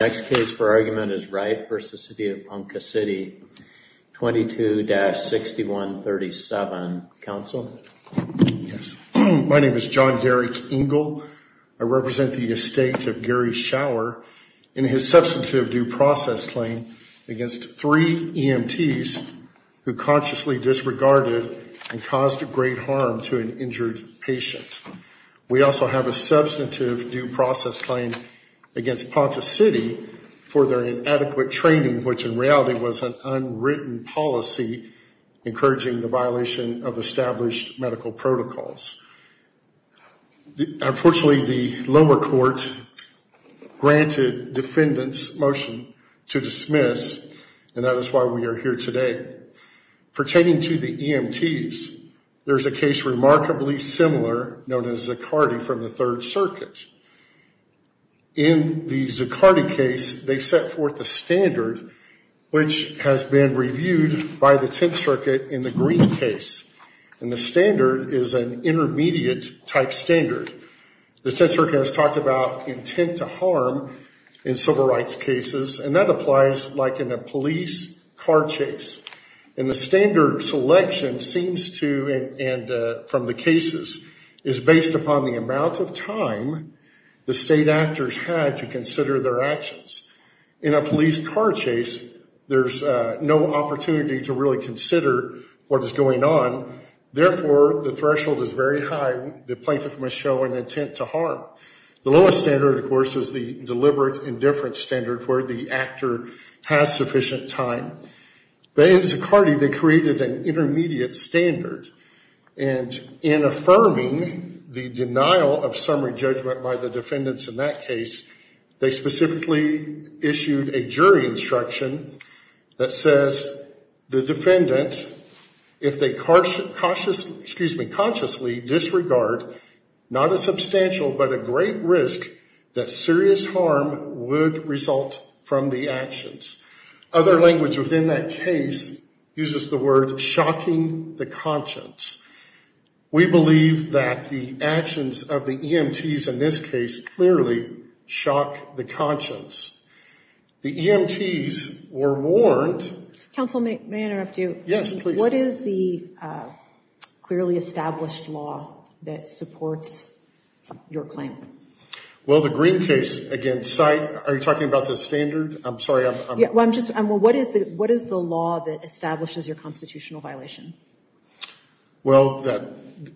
Next case for argument is Wright v. City of Ponca City. 22-6137. Counsel? Yes. My name is John Derrick Engel. I represent the estate of Gary Shower in his substantive due process claim against three EMTs who consciously disregarded and caused great harm to an injured patient. We also have a substantive due process claim against Ponca City for their inadequate training, which in reality was an unwritten policy encouraging the violation of established medical protocols. Unfortunately, the lower court granted defendants motion to dismiss, and that is why we are here today. Pertaining to the EMTs, there is a case remarkably similar known as Zucardi from the Third Circuit. In the Zucardi case, they set forth a standard which has been reviewed by the Tenth Circuit in the Green case, and the standard is an intermediate type standard. The Tenth Circuit has talked about intent to harm in civil rights cases, and that applies like in a police car chase. And the standard selection seems to, and from the cases, is based upon the amount of time the state actors had to consider their actions. In a police car chase, there's no opportunity to really consider what is going on. Therefore, the threshold is very high. The plaintiff must show an intent to harm. The lowest standard, of course, is the deliberate indifference standard where the actor has sufficient time. But in Zucardi, they created an intermediate standard, and in affirming the denial of summary judgment by the defendants in that case, they specifically issued a jury instruction that says the defendant, if they consciously disregard, not a substantial but a great risk that serious harm would result from the actions. Other language within that case uses the word shocking the conscience. We believe that the actions of the EMTs in this case clearly shock the conscience. The EMTs were warned... Counsel, may I interrupt you? Yes, please. What is the clearly established law that supports your claim? Well, the Green case against... Are you talking about the standard? I'm sorry, I'm... Yeah, well, I'm just... What is the law that establishes your constitutional violation? Well,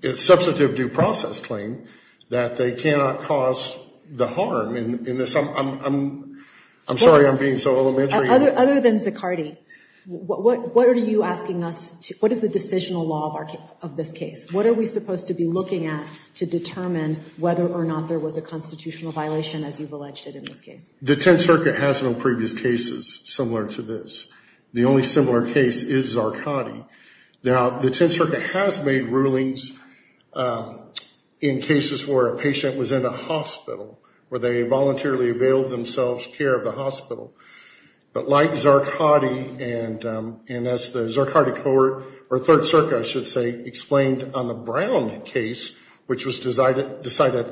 it's substantive due process claim that they cannot cause the harm in this... I'm sorry I'm being so elementary. Other than Zucardi, what are you asking us to... What is the decisional law of this case? What are we supposed to be looking at to determine whether or not there was a constitutional violation as you've alleged it in this case? The Tenth Circuit has no previous cases similar to this. The only similar case is Zucardi. Now, the Tenth Circuit has made rulings in cases where a patient was in a hospital, where they voluntarily availed themselves care of the hospital. But like Zucardi, and as the Zucardi court, or Third Circuit I should say, explained on the Brown case, which was decided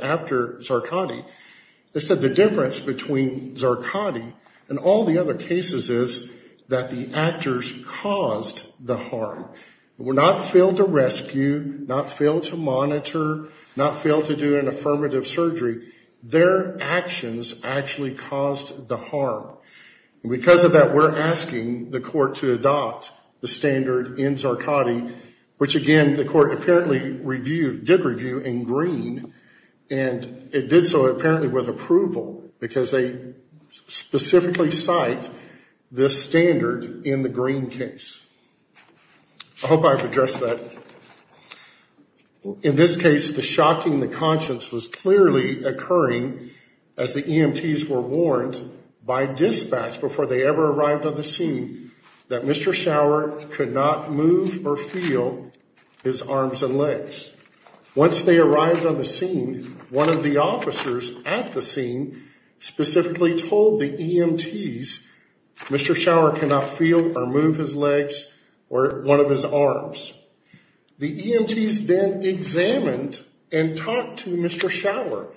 after Zucardi, they said the difference between Zucardi and all the other cases is that the actors caused the harm. They were not failed to rescue, not failed to monitor, not failed to do an affirmative surgery. Their actions actually caused the harm. And because of that, we're asking the court to adopt the standard in Zucardi, which again, the court apparently reviewed... And it did so apparently with approval because they specifically cite this standard in the Green case. I hope I've addressed that. In this case, the shocking, the conscience was clearly occurring as the EMTs were warned by dispatch before they ever arrived on the scene that Mr. Schauer could not move or feel his arms and legs. Once they arrived on the scene, one of the officers at the scene specifically told the EMTs, Mr. Schauer cannot feel or move his legs or one of his arms. The EMTs then examined and talked to Mr. Schauer.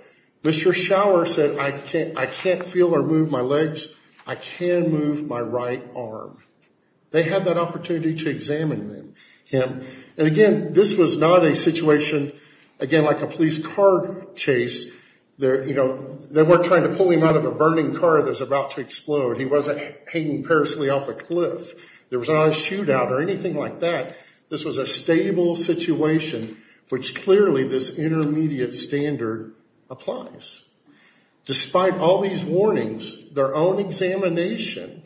Mr. Schauer said, I can't feel or move my legs. I can move my right arm. They had that opportunity to examine him. And again, this was not a situation, again, like a police car chase. They weren't trying to pull him out of a burning car that was about to explode. He wasn't hanging personally off a cliff. There was not a shootout or anything like that. This was a stable situation, which clearly this intermediate standard applies. Despite all these warnings, their own examination,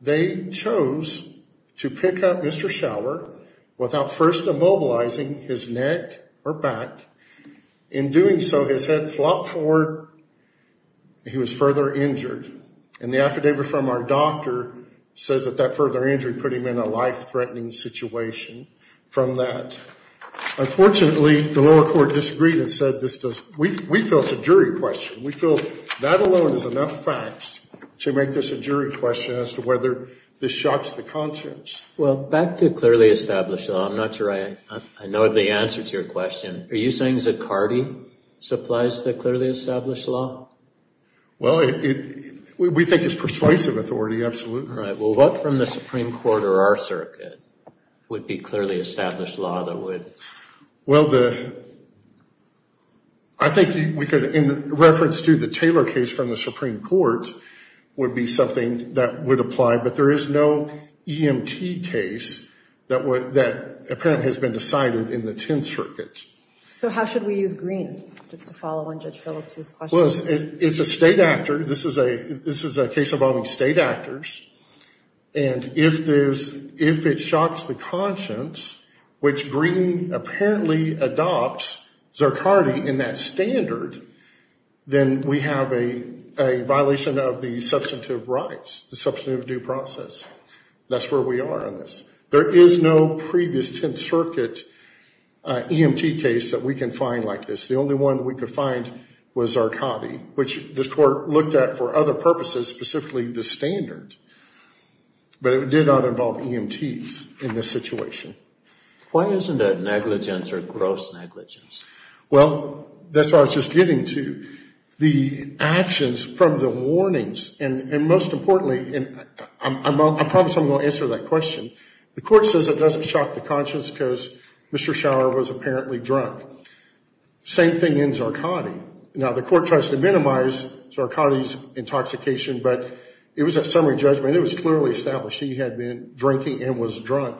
they chose to pick up Mr. Schauer without first immobilizing his neck or back. In doing so, his head flopped forward. He was further injured. And the affidavit from our doctor says that that further injury put him in a life-threatening situation. Unfortunately, the lower court disagreed and said, we feel it's a jury question. We feel that alone is enough facts to make this a jury question as to whether this shocks the conscience. Well, back to clearly established law. I'm not sure I know the answer to your question. Are you saying Zicardi supplies the clearly established law? Well, we think it's persuasive authority, absolutely. All right. Well, what from the Supreme Court or our circuit would be clearly established law that would? Well, I think we could, in reference to the Taylor case from the Supreme Court, would be something that would apply. But there is no EMT case that apparently has been decided in the Tenth Circuit. So how should we use Green, just to follow on Judge Phillips' question? Well, it's a state actor. This is a case involving state actors. And if it shocks the conscience, which Green apparently adopts Zicardi in that standard, then we have a violation of the substantive rights, the substantive due process. That's where we are on this. There is no previous Tenth Circuit EMT case that we can find like this. The only one we could find was Zicardi, which this Court looked at for other purposes, specifically the standard. But it did not involve EMTs in this situation. Why isn't it negligence or gross negligence? Well, that's what I was just getting to. The actions from the warnings, and most importantly, and I promise I'm going to answer that question. The Court says it doesn't shock the conscience because Mr. Schauer was apparently drunk. Same thing in Zicardi. Now, the Court tries to minimize Zicardi's intoxication, but it was a summary judgment. It was clearly established he had been drinking and was drunk.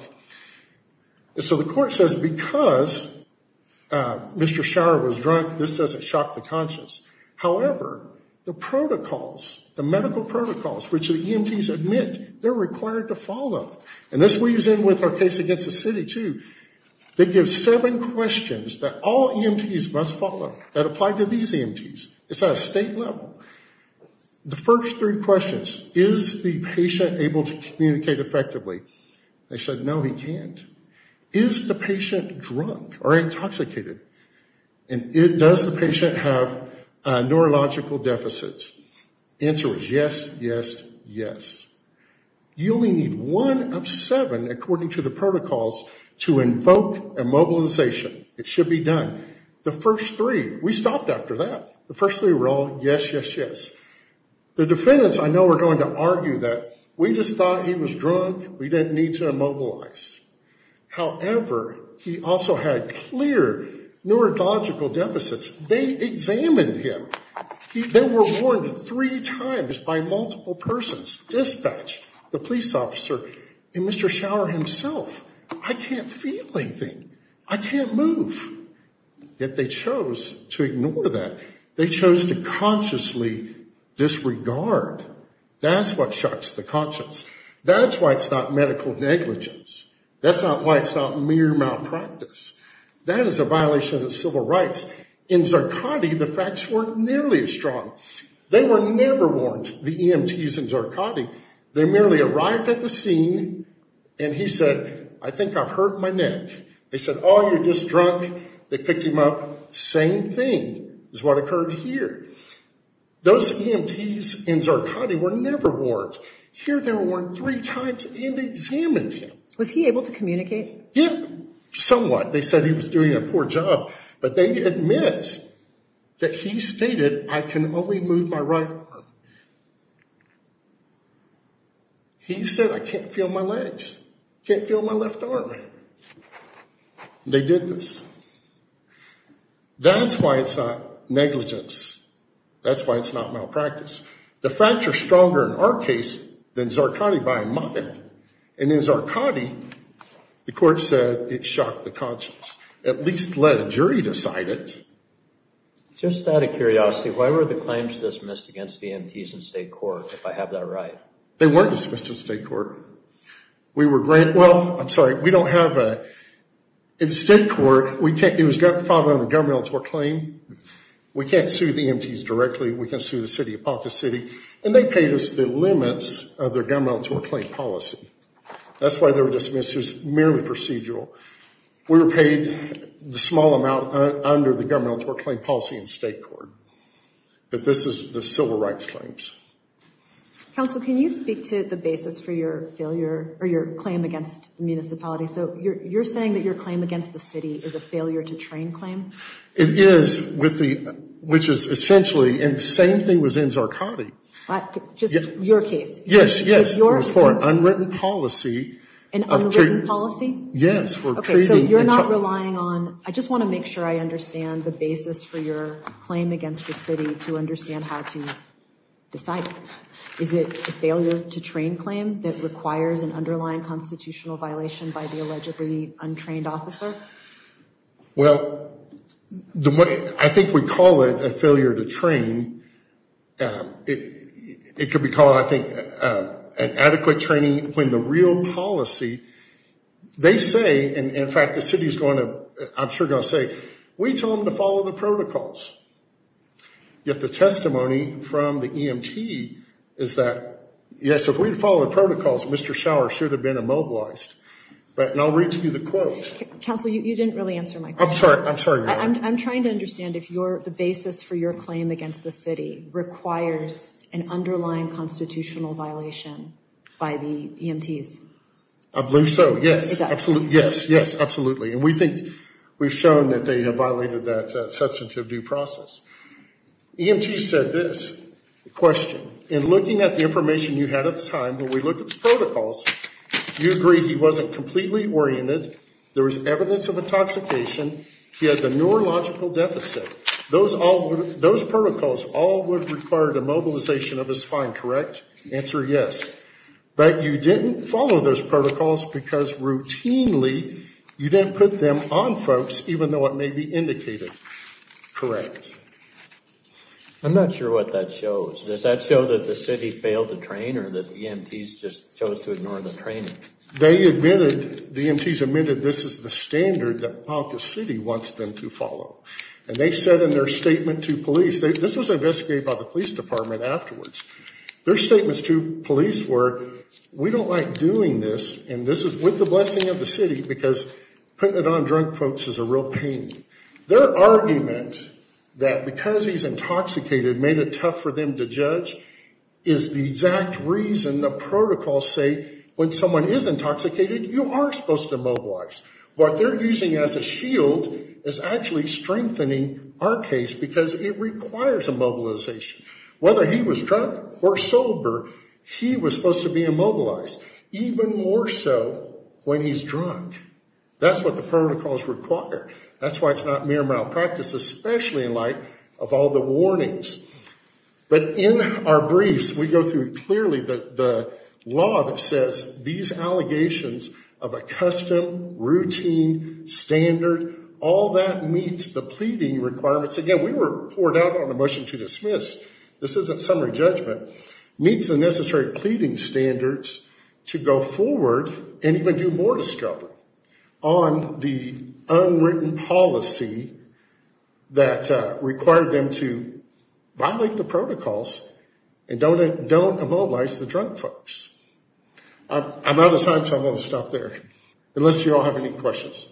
So the Court says because Mr. Schauer was drunk, this doesn't shock the conscience. However, the protocols, the medical protocols, which the EMTs admit they're required to follow, and this weaves in with our case against the city, too. They give seven questions that all EMTs must follow that apply to these EMTs. It's at a state level. The first three questions, is the patient able to communicate effectively? They said no, he can't. Is the patient drunk or intoxicated? And does the patient have neurological deficits? The answer is yes, yes, yes. You only need one of seven, according to the protocols, to invoke immobilization. It should be done. The first three, we stopped after that. The first three were all yes, yes, yes. The defendants I know are going to argue that we just thought he was drunk, we didn't need to immobilize. However, he also had clear neurological deficits. They examined him. They were warned three times by multiple persons. Dispatch, the police officer, and Mr. Schauer himself. I can't feel anything. I can't move. Yet they chose to ignore that. They chose to consciously disregard. That's what shucks the conscience. That's why it's not medical negligence. That's not why it's not mere malpractice. That is a violation of civil rights. In Zarkadi, the facts weren't nearly as strong. They were never warned, the EMTs in Zarkadi. They merely arrived at the scene, and he said, I think I've hurt my neck. They said, oh, you're just drunk. They picked him up. Same thing is what occurred here. Those EMTs in Zarkadi were never warned. Here they were warned three times and examined him. Was he able to communicate? Yeah, somewhat. They said he was doing a poor job. But they admit that he stated, I can only move my right arm. He said, I can't feel my legs. I can't feel my left arm. They did this. That's why it's not negligence. That's why it's not malpractice. The facts are stronger in our case than Zarkadi by a mile. And in Zarkadi, the court said it shocked the conscience. At least let a jury decide it. Just out of curiosity, why were the claims dismissed against the EMTs in state court, if I have that right? They weren't dismissed in state court. We were granted – well, I'm sorry, we don't have a – in state court, we can't – it was filed under gun military claim. We can't sue the EMTs directly. We can't sue the city of Paucus City. And they paid us the limits of their gun military claim policy. That's why they were dismissed. It was merely procedural. We were paid the small amount under the gun military claim policy in state court. But this is the civil rights claims. Counsel, can you speak to the basis for your failure or your claim against the municipality? So you're saying that your claim against the city is a failure to train claim? It is, which is essentially – and the same thing was in Zarkadi. Just your case. Yes, yes. It was for an unwritten policy. An unwritten policy? Yes. Okay, so you're not relying on – I just want to make sure I understand the basis for your claim against the city to understand how to decide. Is it a failure to train claim that requires an underlying constitutional violation by the allegedly untrained officer? Well, I think we call it a failure to train. It could be called, I think, an adequate training when the real policy – they say, and in fact the city is going to – I'm sure going to say, we told them to follow the protocols. Yet the testimony from the EMT is that, yes, if we had followed the protocols, Mr. Schauer should have been immobilized. And I'll read to you the quote. Counsel, you didn't really answer my question. I'm sorry, I'm sorry. I'm trying to understand if the basis for your claim against the city requires an underlying constitutional violation by the EMTs. I believe so, yes. It does? Yes, yes, absolutely. And we think we've shown that they have violated that substantive due process. EMT said this, the question, in looking at the information you had at the time, when we looked at the protocols, you agreed he wasn't completely oriented, there was evidence of intoxication, he had the neurological deficit. Those protocols all would require the mobilization of his spine, correct? Answer, yes. But you didn't follow those protocols because routinely you didn't put them on folks even though it may be indicated, correct? I'm not sure what that shows. Does that show that the city failed to train or that the EMTs just chose to ignore the training? They admitted, the EMTs admitted this is the standard that Ponca City wants them to follow. And they said in their statement to police, this was investigated by the police department afterwards, their statements to police were we don't like doing this and this is with the blessing of the city because putting it on drunk folks is a real pain. is the exact reason the protocols say when someone is intoxicated, you are supposed to mobilize. What they're using as a shield is actually strengthening our case because it requires a mobilization. Whether he was drunk or sober, he was supposed to be immobilized, even more so when he's drunk. That's what the protocols require. That's why it's not mere malpractice, especially in light of all the warnings. But in our briefs, we go through clearly the law that says these allegations of a custom, routine, standard, all that meets the pleading requirements. Again, we were poured out on a motion to dismiss. This isn't summary judgment. Meets the necessary pleading standards to go forward and even do more discovery on the unwritten policy that required them to violate the protocols and don't immobilize the drunk folks. I'm out of time, so I'm going to stop there, unless you all have any questions.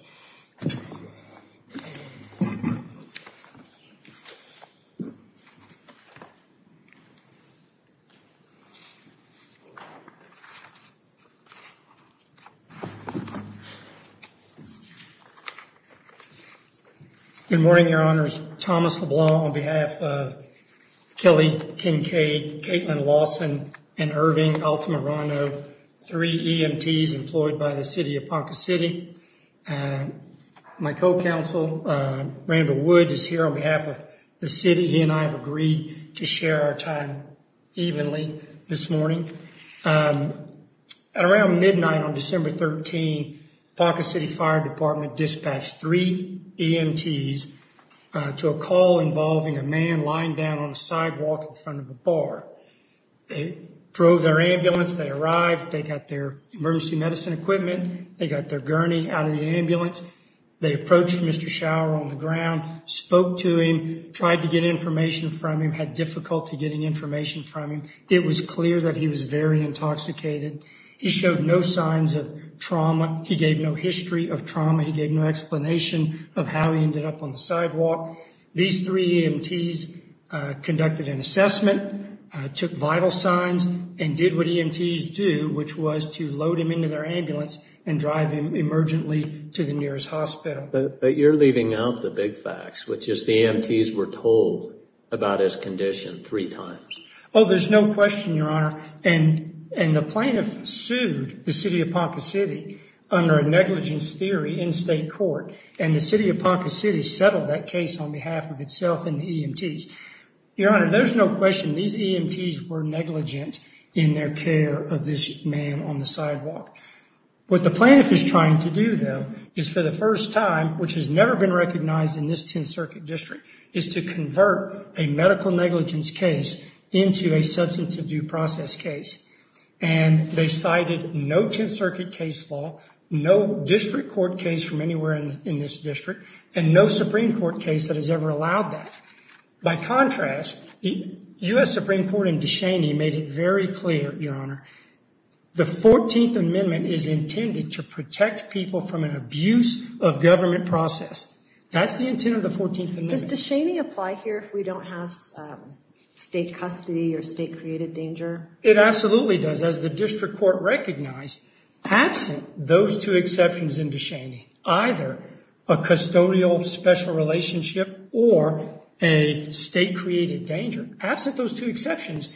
Good morning, Your Honors. Thomas LeBlanc on behalf of Kelly Kincaid, Kaitlin Lawson, and Irving Altamirano, three EMTs employed by the city of Ponca City. My co-counsel, Randall Wood, is here on behalf of the city. He and I have agreed to share our time evenly this morning. At around midnight on December 13, Ponca City Fire Department dispatched three EMTs to a call involving a man lying down on a sidewalk in front of a bar. They drove their ambulance. They arrived. They got their emergency medicine equipment. They got their gurney out of the ambulance. They approached Mr. Schauer on the ground, spoke to him, tried to get information from him, had difficulty getting information from him. It was clear that he was very intoxicated. He showed no signs of trauma. He gave no history of trauma. He gave no explanation of how he ended up on the sidewalk. These three EMTs conducted an assessment, took vital signs, and did what EMTs do, which was to load him into their ambulance and drive him emergently to the nearest hospital. But you're leaving out the big facts, which is the EMTs were told about his condition three times. Oh, there's no question, Your Honor. And the plaintiff sued the city of Ponca City under a negligence theory in state court, and the city of Ponca City settled that case on behalf of itself and the EMTs. Your Honor, there's no question these EMTs were negligent in their care of this man on the sidewalk. What the plaintiff is trying to do, though, is for the first time, which has never been recognized in this Tenth Circuit District, is to convert a medical negligence case into a substantive due process case. And they cited no Tenth Circuit case law, no district court case from anywhere in this district, and no Supreme Court case that has ever allowed that. By contrast, the U.S. Supreme Court in Descheny made it very clear, Your Honor, the 14th Amendment is intended to protect people That's the intent of the 14th Amendment. Does Descheny apply here if we don't have state custody or state-created danger? It absolutely does. As the district court recognized, absent those two exceptions in Descheny, either a custodial special relationship or a state-created danger, absent those two exceptions,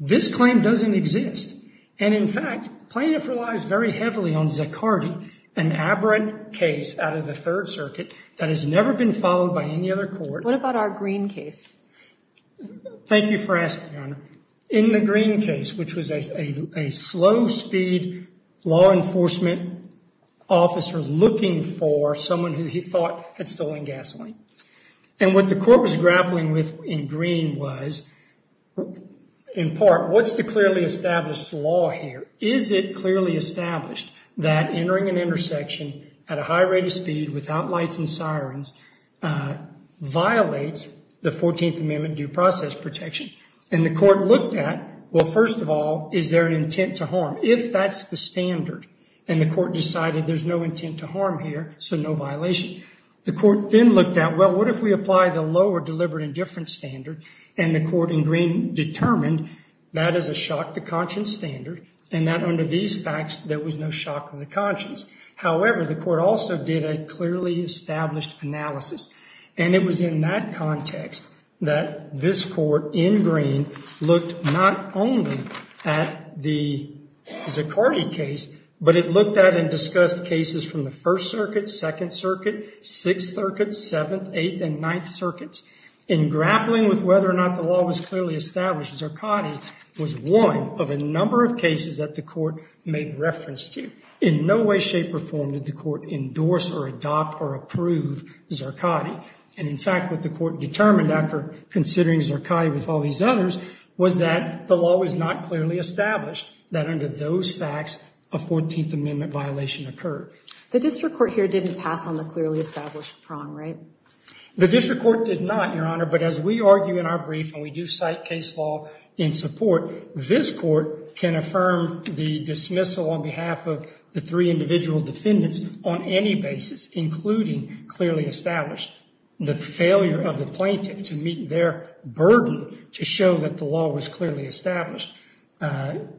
this claim doesn't exist. And in fact, plaintiff relies very heavily on Zaccardi, an aberrant case out of the Third Circuit that has never been followed by any other court. What about our Green case? Thank you for asking, Your Honor. In the Green case, which was a slow-speed law enforcement officer looking for someone who he thought had stolen gasoline. And what the court was grappling with in Green was, in part, what's the clearly established law here? Is it clearly established that entering an intersection at a high rate of speed without lights and sirens violates the 14th Amendment due process protection? And the court looked at, well, first of all, is there an intent to harm if that's the standard? And the court decided there's no intent to harm here, so no violation. The court then looked at, well, what if we apply the lower deliberate indifference standard? And the court in Green determined that is a shock to conscience standard and that under these facts there was no shock to the conscience. However, the court also did a clearly established analysis. And it was in that context that this court in Green looked not only at the Zuccotti case, but it looked at and discussed cases from the First Circuit, Second Circuit, Sixth Circuit, Seventh, Eighth, and Ninth Circuits. In grappling with whether or not the law was clearly established, Zuccotti was one of a number of cases that the court made reference to. In no way, shape, or form did the court endorse or adopt or approve Zuccotti. And in fact, what the court determined after considering Zuccotti with all these others was that the law was not clearly established, that under those facts a 14th Amendment violation occurred. The district court here didn't pass on the clearly established prong, right? The district court did not, Your Honor. But as we argue in our brief, and we do cite case law in support, this court can affirm the dismissal on behalf of the three individual defendants on any basis, including clearly established. The failure of the plaintiff to meet their burden to show that the law was clearly established.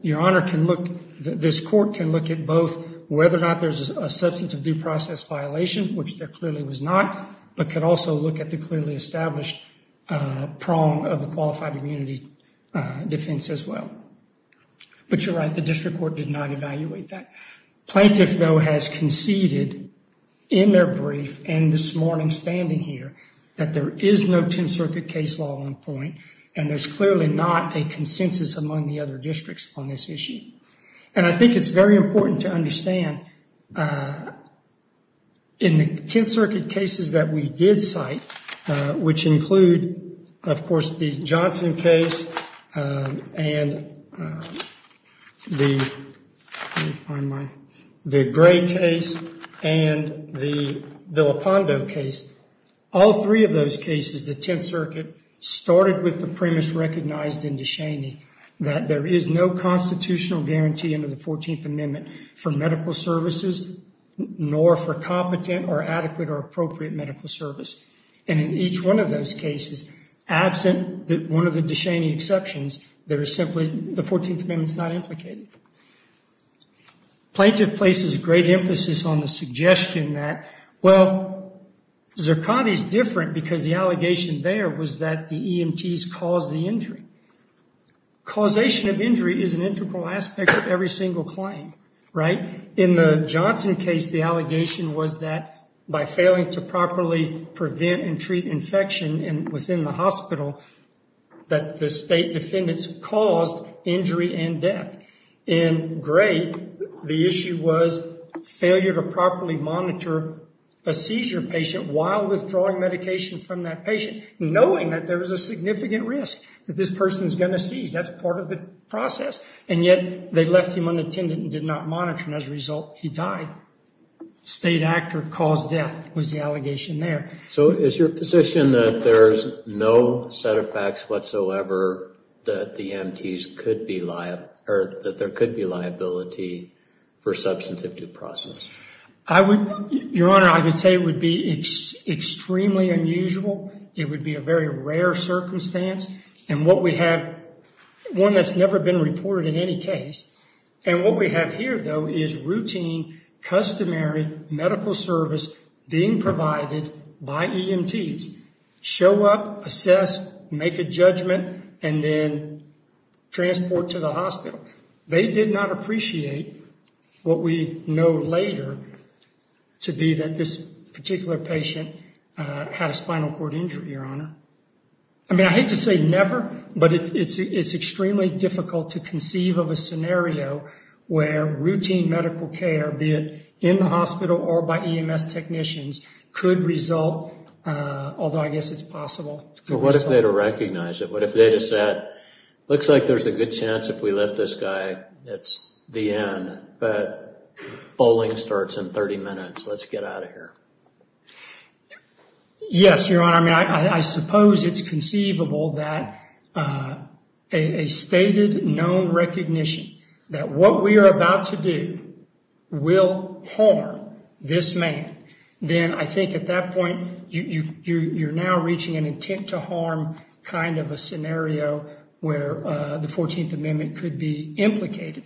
Your Honor, this court can look at both whether or not there's a substantive due process violation, which there clearly was not, but could also look at the clearly established prong of the qualified immunity defense as well. But you're right, the district court did not evaluate that. Plaintiff, though, has conceded in their brief and this morning standing here, that there is no Tenth Circuit case law on point and there's clearly not a consensus among the other districts on this issue. And I think it's very important to understand in the Tenth Circuit cases that we did cite, which include, of course, the Johnson case and the Gray case and the Villapando case. All three of those cases, the Tenth Circuit started with the premise recognized in DeShaney that there is no constitutional guarantee under the 14th Amendment for medical services nor for competent or adequate or appropriate medical service. And in each one of those cases, absent one of the DeShaney exceptions, there is simply the 14th Amendment's not implicated. Plaintiff places great emphasis on the suggestion that, well, Zirconi's different because the allegation there was that the EMTs caused the injury. Causation of injury is an integral aspect of every single claim, right? In the Johnson case, the allegation was that by failing to properly prevent and treat infection within the hospital, that the state defendants caused injury and death. In Gray, the issue was failure to properly monitor a seizure patient while withdrawing medication from that patient, knowing that there was a significant risk that this person is going to seize. That's part of the process. And yet they left him unattended and did not monitor, and as a result, he died. State actor caused death was the allegation there. So is your position that there's no set of facts whatsoever that the EMTs could be liable, or that there could be liability for substantive due process? Your Honor, I would say it would be extremely unusual. It would be a very rare circumstance. And what we have, one that's never been reported in any case, and what we have here, though, is routine, customary medical service being provided by EMTs. Show up, assess, make a judgment, and then transport to the hospital. They did not appreciate what we know later to be that this particular patient had a spinal cord injury, Your Honor. I mean, I hate to say never, but it's extremely difficult to conceive of a scenario where routine medical care, be it in the hospital or by EMS technicians, could result, although I guess it's possible. Well, what if they had recognized it? What if they just said, looks like there's a good chance if we lift this guy, it's the end. But bowling starts in 30 minutes. Let's get out of here. Yes, Your Honor. I mean, I suppose it's conceivable that a stated known recognition that what we are about to do will harm this man, then I think at that point you're now reaching an intent to harm kind of a scenario where the 14th Amendment could be implicated.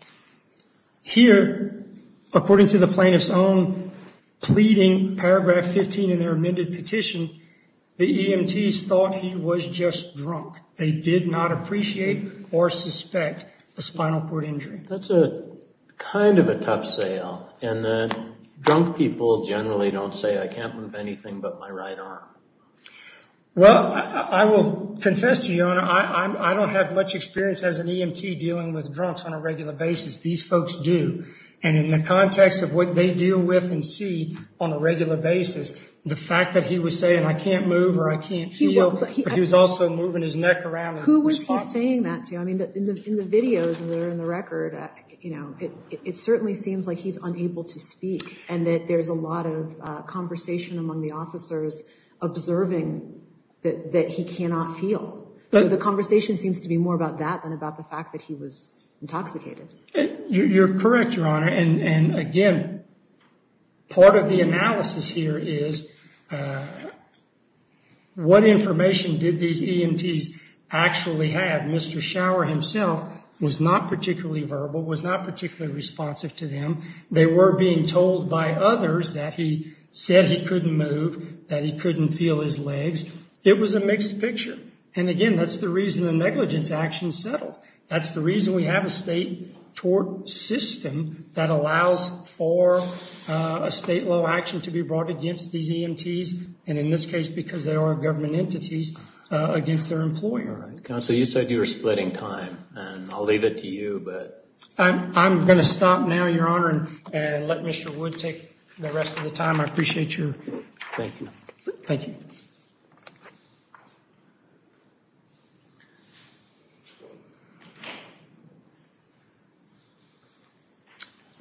Here, according to the plaintiff's own pleading, paragraph 15 in their amended petition, the EMTs thought he was just drunk. They did not appreciate or suspect a spinal cord injury. That's kind of a tough sale. And the drunk people generally don't say, I can't move anything but my right arm. Well, I will confess to you, Your Honor, I don't have much experience as an EMT dealing with drunks on a regular basis. These folks do. And in the context of what they deal with and see on a regular basis, the fact that he was saying, I can't move or I can't feel, but he was also moving his neck around. Who was he saying that to? I mean, in the videos that are in the record, you know, it certainly seems like he's unable to speak and that there's a lot of conversation among the officers observing that he cannot feel. The conversation seems to be more about that than about the fact that he was intoxicated. You're correct, Your Honor. And, again, part of the analysis here is what information did these EMTs actually have? Mr. Shower himself was not particularly verbal, was not particularly responsive to them. They were being told by others that he said he couldn't move, that he couldn't feel his legs. It was a mixed picture. And, again, that's the reason the negligence action settled. That's the reason we have a state tort system that allows for a state law action to be brought against these EMTs, and in this case because they are government entities, against their employer. Counsel, you said you were splitting time, and I'll leave it to you, but... I'm going to stop now, Your Honor, and let Mr. Wood take the rest of the time. I appreciate your... Thank you. Thank you.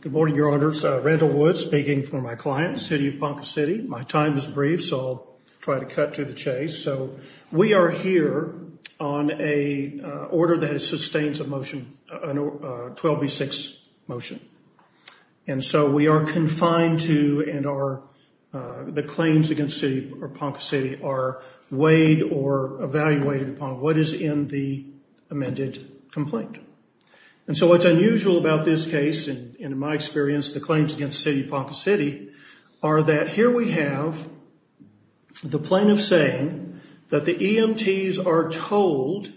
Good morning, Your Honors. Randall Wood speaking for my client, City of Ponca City. My time is brief, so I'll try to cut to the chase. So we are here on a order that sustains a motion, a 12B6 motion. And so we are confined to and are... The claims against City of Ponca City are weighed or evaluated upon what is in the amended complaint. And so what's unusual about this case, and in my experience, the claims against City of Ponca City, are that here we have the plaintiff saying that the EMTs are told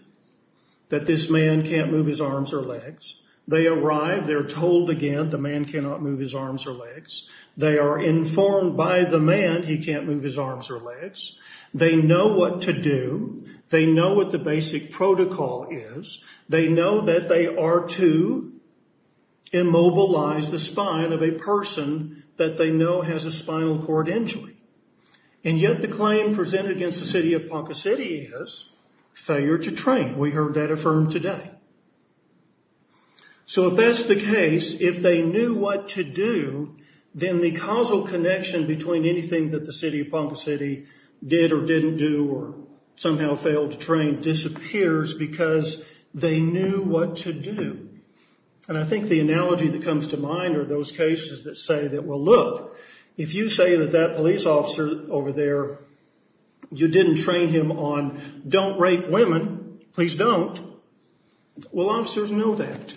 that this man can't move his arms or legs. They arrive, they're told again the man cannot move his arms or legs. They are informed by the man he can't move his arms or legs. They know what to do. They know what the basic protocol is. They know that they are to immobilize the spine of a person that they know has a spinal cord injury. And yet the claim presented against the City of Ponca City is failure to train. We heard that affirmed today. So if that's the case, if they knew what to do, then the causal connection between anything that the City of Ponca City did or didn't do or somehow failed to train disappears because they knew what to do. And I think the analogy that comes to mind are those cases that say that, well, look, if you say that that police officer over there, you didn't train him on don't rape women, please don't, well, officers know that.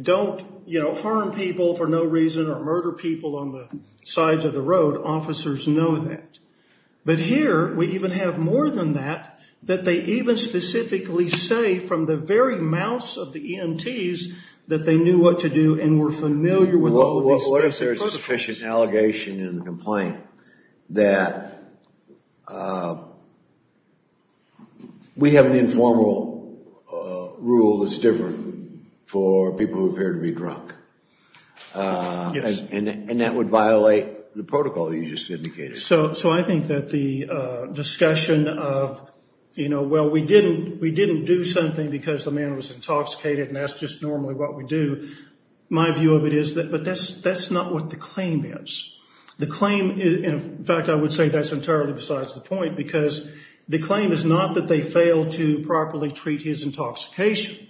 Don't, you know, harm people for no reason or murder people on the sides of the road. Officers know that. But here we even have more than that, that they even specifically say from the very mouths of the EMTs that they knew what to do and were familiar with all these specific protocols. What if there's a sufficient allegation in the complaint that we have an informal rule that's different for people who appear to be drunk? Yes. And that would violate the protocol you just indicated. So I think that the discussion of, you know, well, we didn't do something because the man was intoxicated and that's just normally what we do, my view of it is that, but that's not what the claim is. The claim, in fact, I would say that's entirely besides the point because the claim is not that they failed to properly treat his intoxication.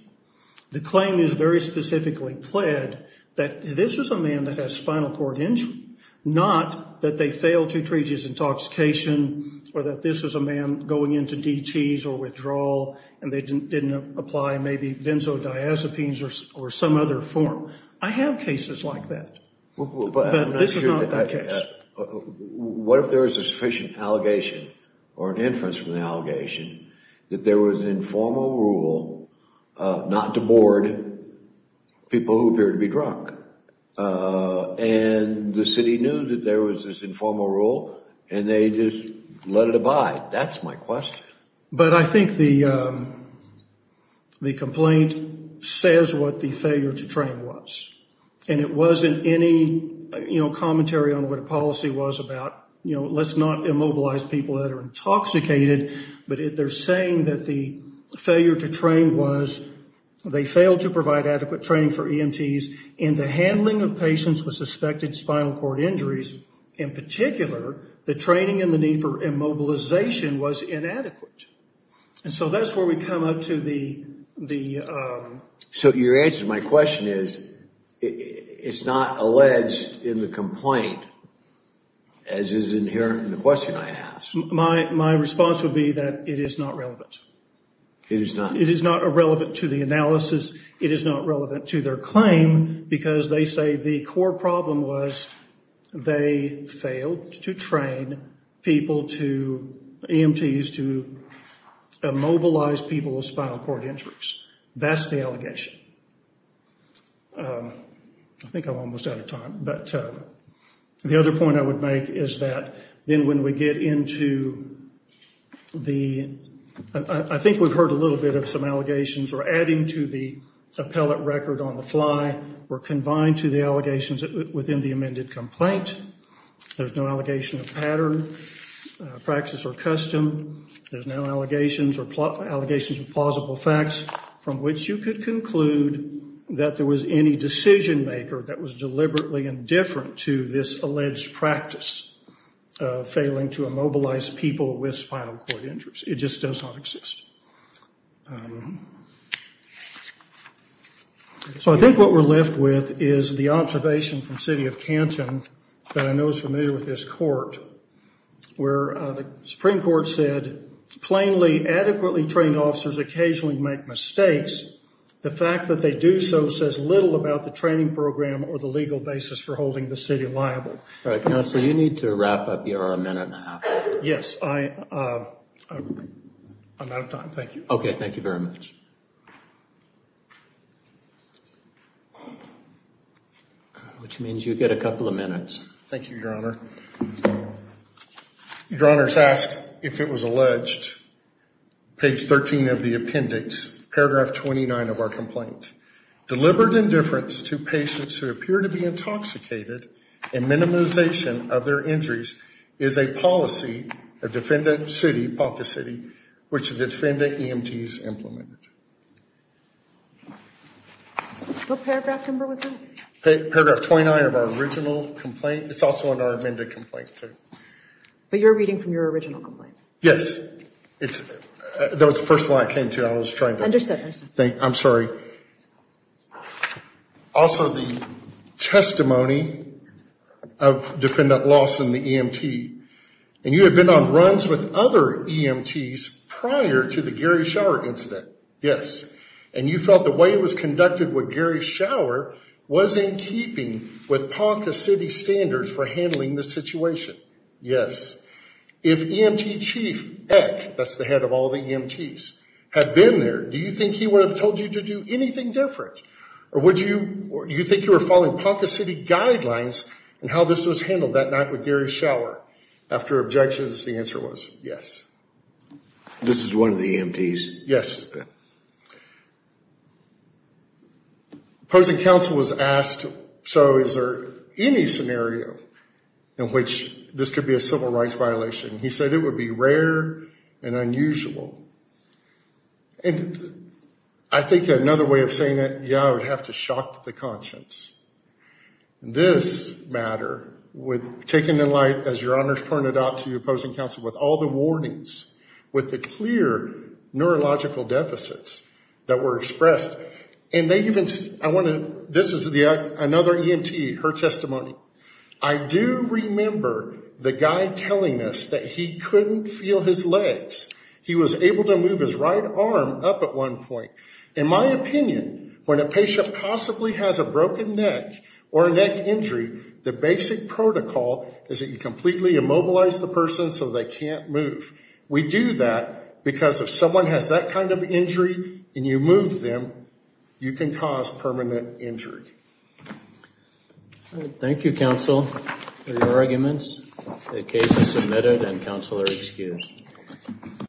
The claim is very specifically pled that this was a man that has spinal cord injury, not that they failed to treat his intoxication or that this was a man going into DTs or withdrawal and they didn't apply maybe benzodiazepines or some other form. I have cases like that. But this is not that case. What if there is a sufficient allegation or an inference from the allegation that there was an informal rule not to board people who appear to be drunk and the city knew that there was this informal rule and they just let it abide? That's my question. But I think the complaint says what the failure to train was. And it wasn't any commentary on what a policy was about, you know, let's not immobilize people that are intoxicated, but they're saying that the failure to train was they failed to provide adequate training for EMTs in the handling of patients with suspected spinal cord injuries. In particular, the training and the need for immobilization was inadequate. And so that's where we come up to the... So your answer to my question is it's not alleged in the complaint as is inherent in the question I asked. My response would be that it is not relevant. It is not? It is not irrelevant to the analysis. It is not relevant to their claim because they say the core problem was they failed to train people to, EMTs, to immobilize people with spinal cord injuries. That's the allegation. I think I'm almost out of time. But the other point I would make is that then when we get into the... I think we've heard a little bit of some allegations or adding to the appellate record on the fly were confined to the allegations within the amended complaint. There's no allegation of pattern, practice, or custom. There's no allegations or allegations of plausible facts from which you could conclude that there was any decision maker that was deliberately indifferent to this alleged practice of failing to immobilize people with spinal cord injuries. It just does not exist. So I think what we're left with is the observation from city of Canton that I know is familiar with this court where the Supreme Court said plainly adequately trained officers occasionally make mistakes. The fact that they do so says little about the training program or the legal basis for holding the city liable. You're a minute and a half. Yes. I'm out of time. Thank you. Okay. Thank you very much. Which means you get a couple of minutes. Thank you, Your Honor. Your Honor's asked if it was alleged, page 13 of the appendix, paragraph 29 of our complaint. Deliberate indifference to patients who appear to be intoxicated and minimization of their injuries is a policy of Defenda City, Ponca City, which the Defenda EMT's implemented. What paragraph number was that? Paragraph 29 of our original complaint. It's also in our amended complaint, too. But you're reading from your original complaint? Yes. That was the first one I came to. I was trying to... Understood. I'm sorry. Also, the testimony of Defendant Lawson, the EMT, and you have been on runs with other EMTs prior to the Gary Shower incident. Yes. And you felt the way it was conducted with Gary Shower was in keeping with Ponca City standards for handling the situation. Yes. If EMT Chief Eck, that's the head of all the EMTs, had been there, do you think he would have told you to do anything different? Or would you... Do you think you were following Ponca City guidelines in how this was handled that night with Gary Shower? After objections, the answer was yes. This is one of the EMTs? Yes. Opposing counsel was asked, so is there any scenario in which this could be a civil rights violation? He said it would be rare and unusual. And I think another way of saying it, yeah, I would have to shock the conscience. This matter, taken in light, as Your Honors pointed out, to opposing counsel with all the warnings, with the clear neurological deficits that were expressed, and they even... I want to... This is another EMT, her testimony. I do remember the guy telling us that he couldn't feel his legs. He was able to move his right arm up at one point. In my opinion, when a patient possibly has a broken neck or a neck injury, the basic protocol is that you completely immobilize the person so they can't move. We do that because if someone has that kind of injury and you move them, you can cause permanent injury. Thank you, counsel, for your arguments. The case is submitted and counsel are excused. Thank you.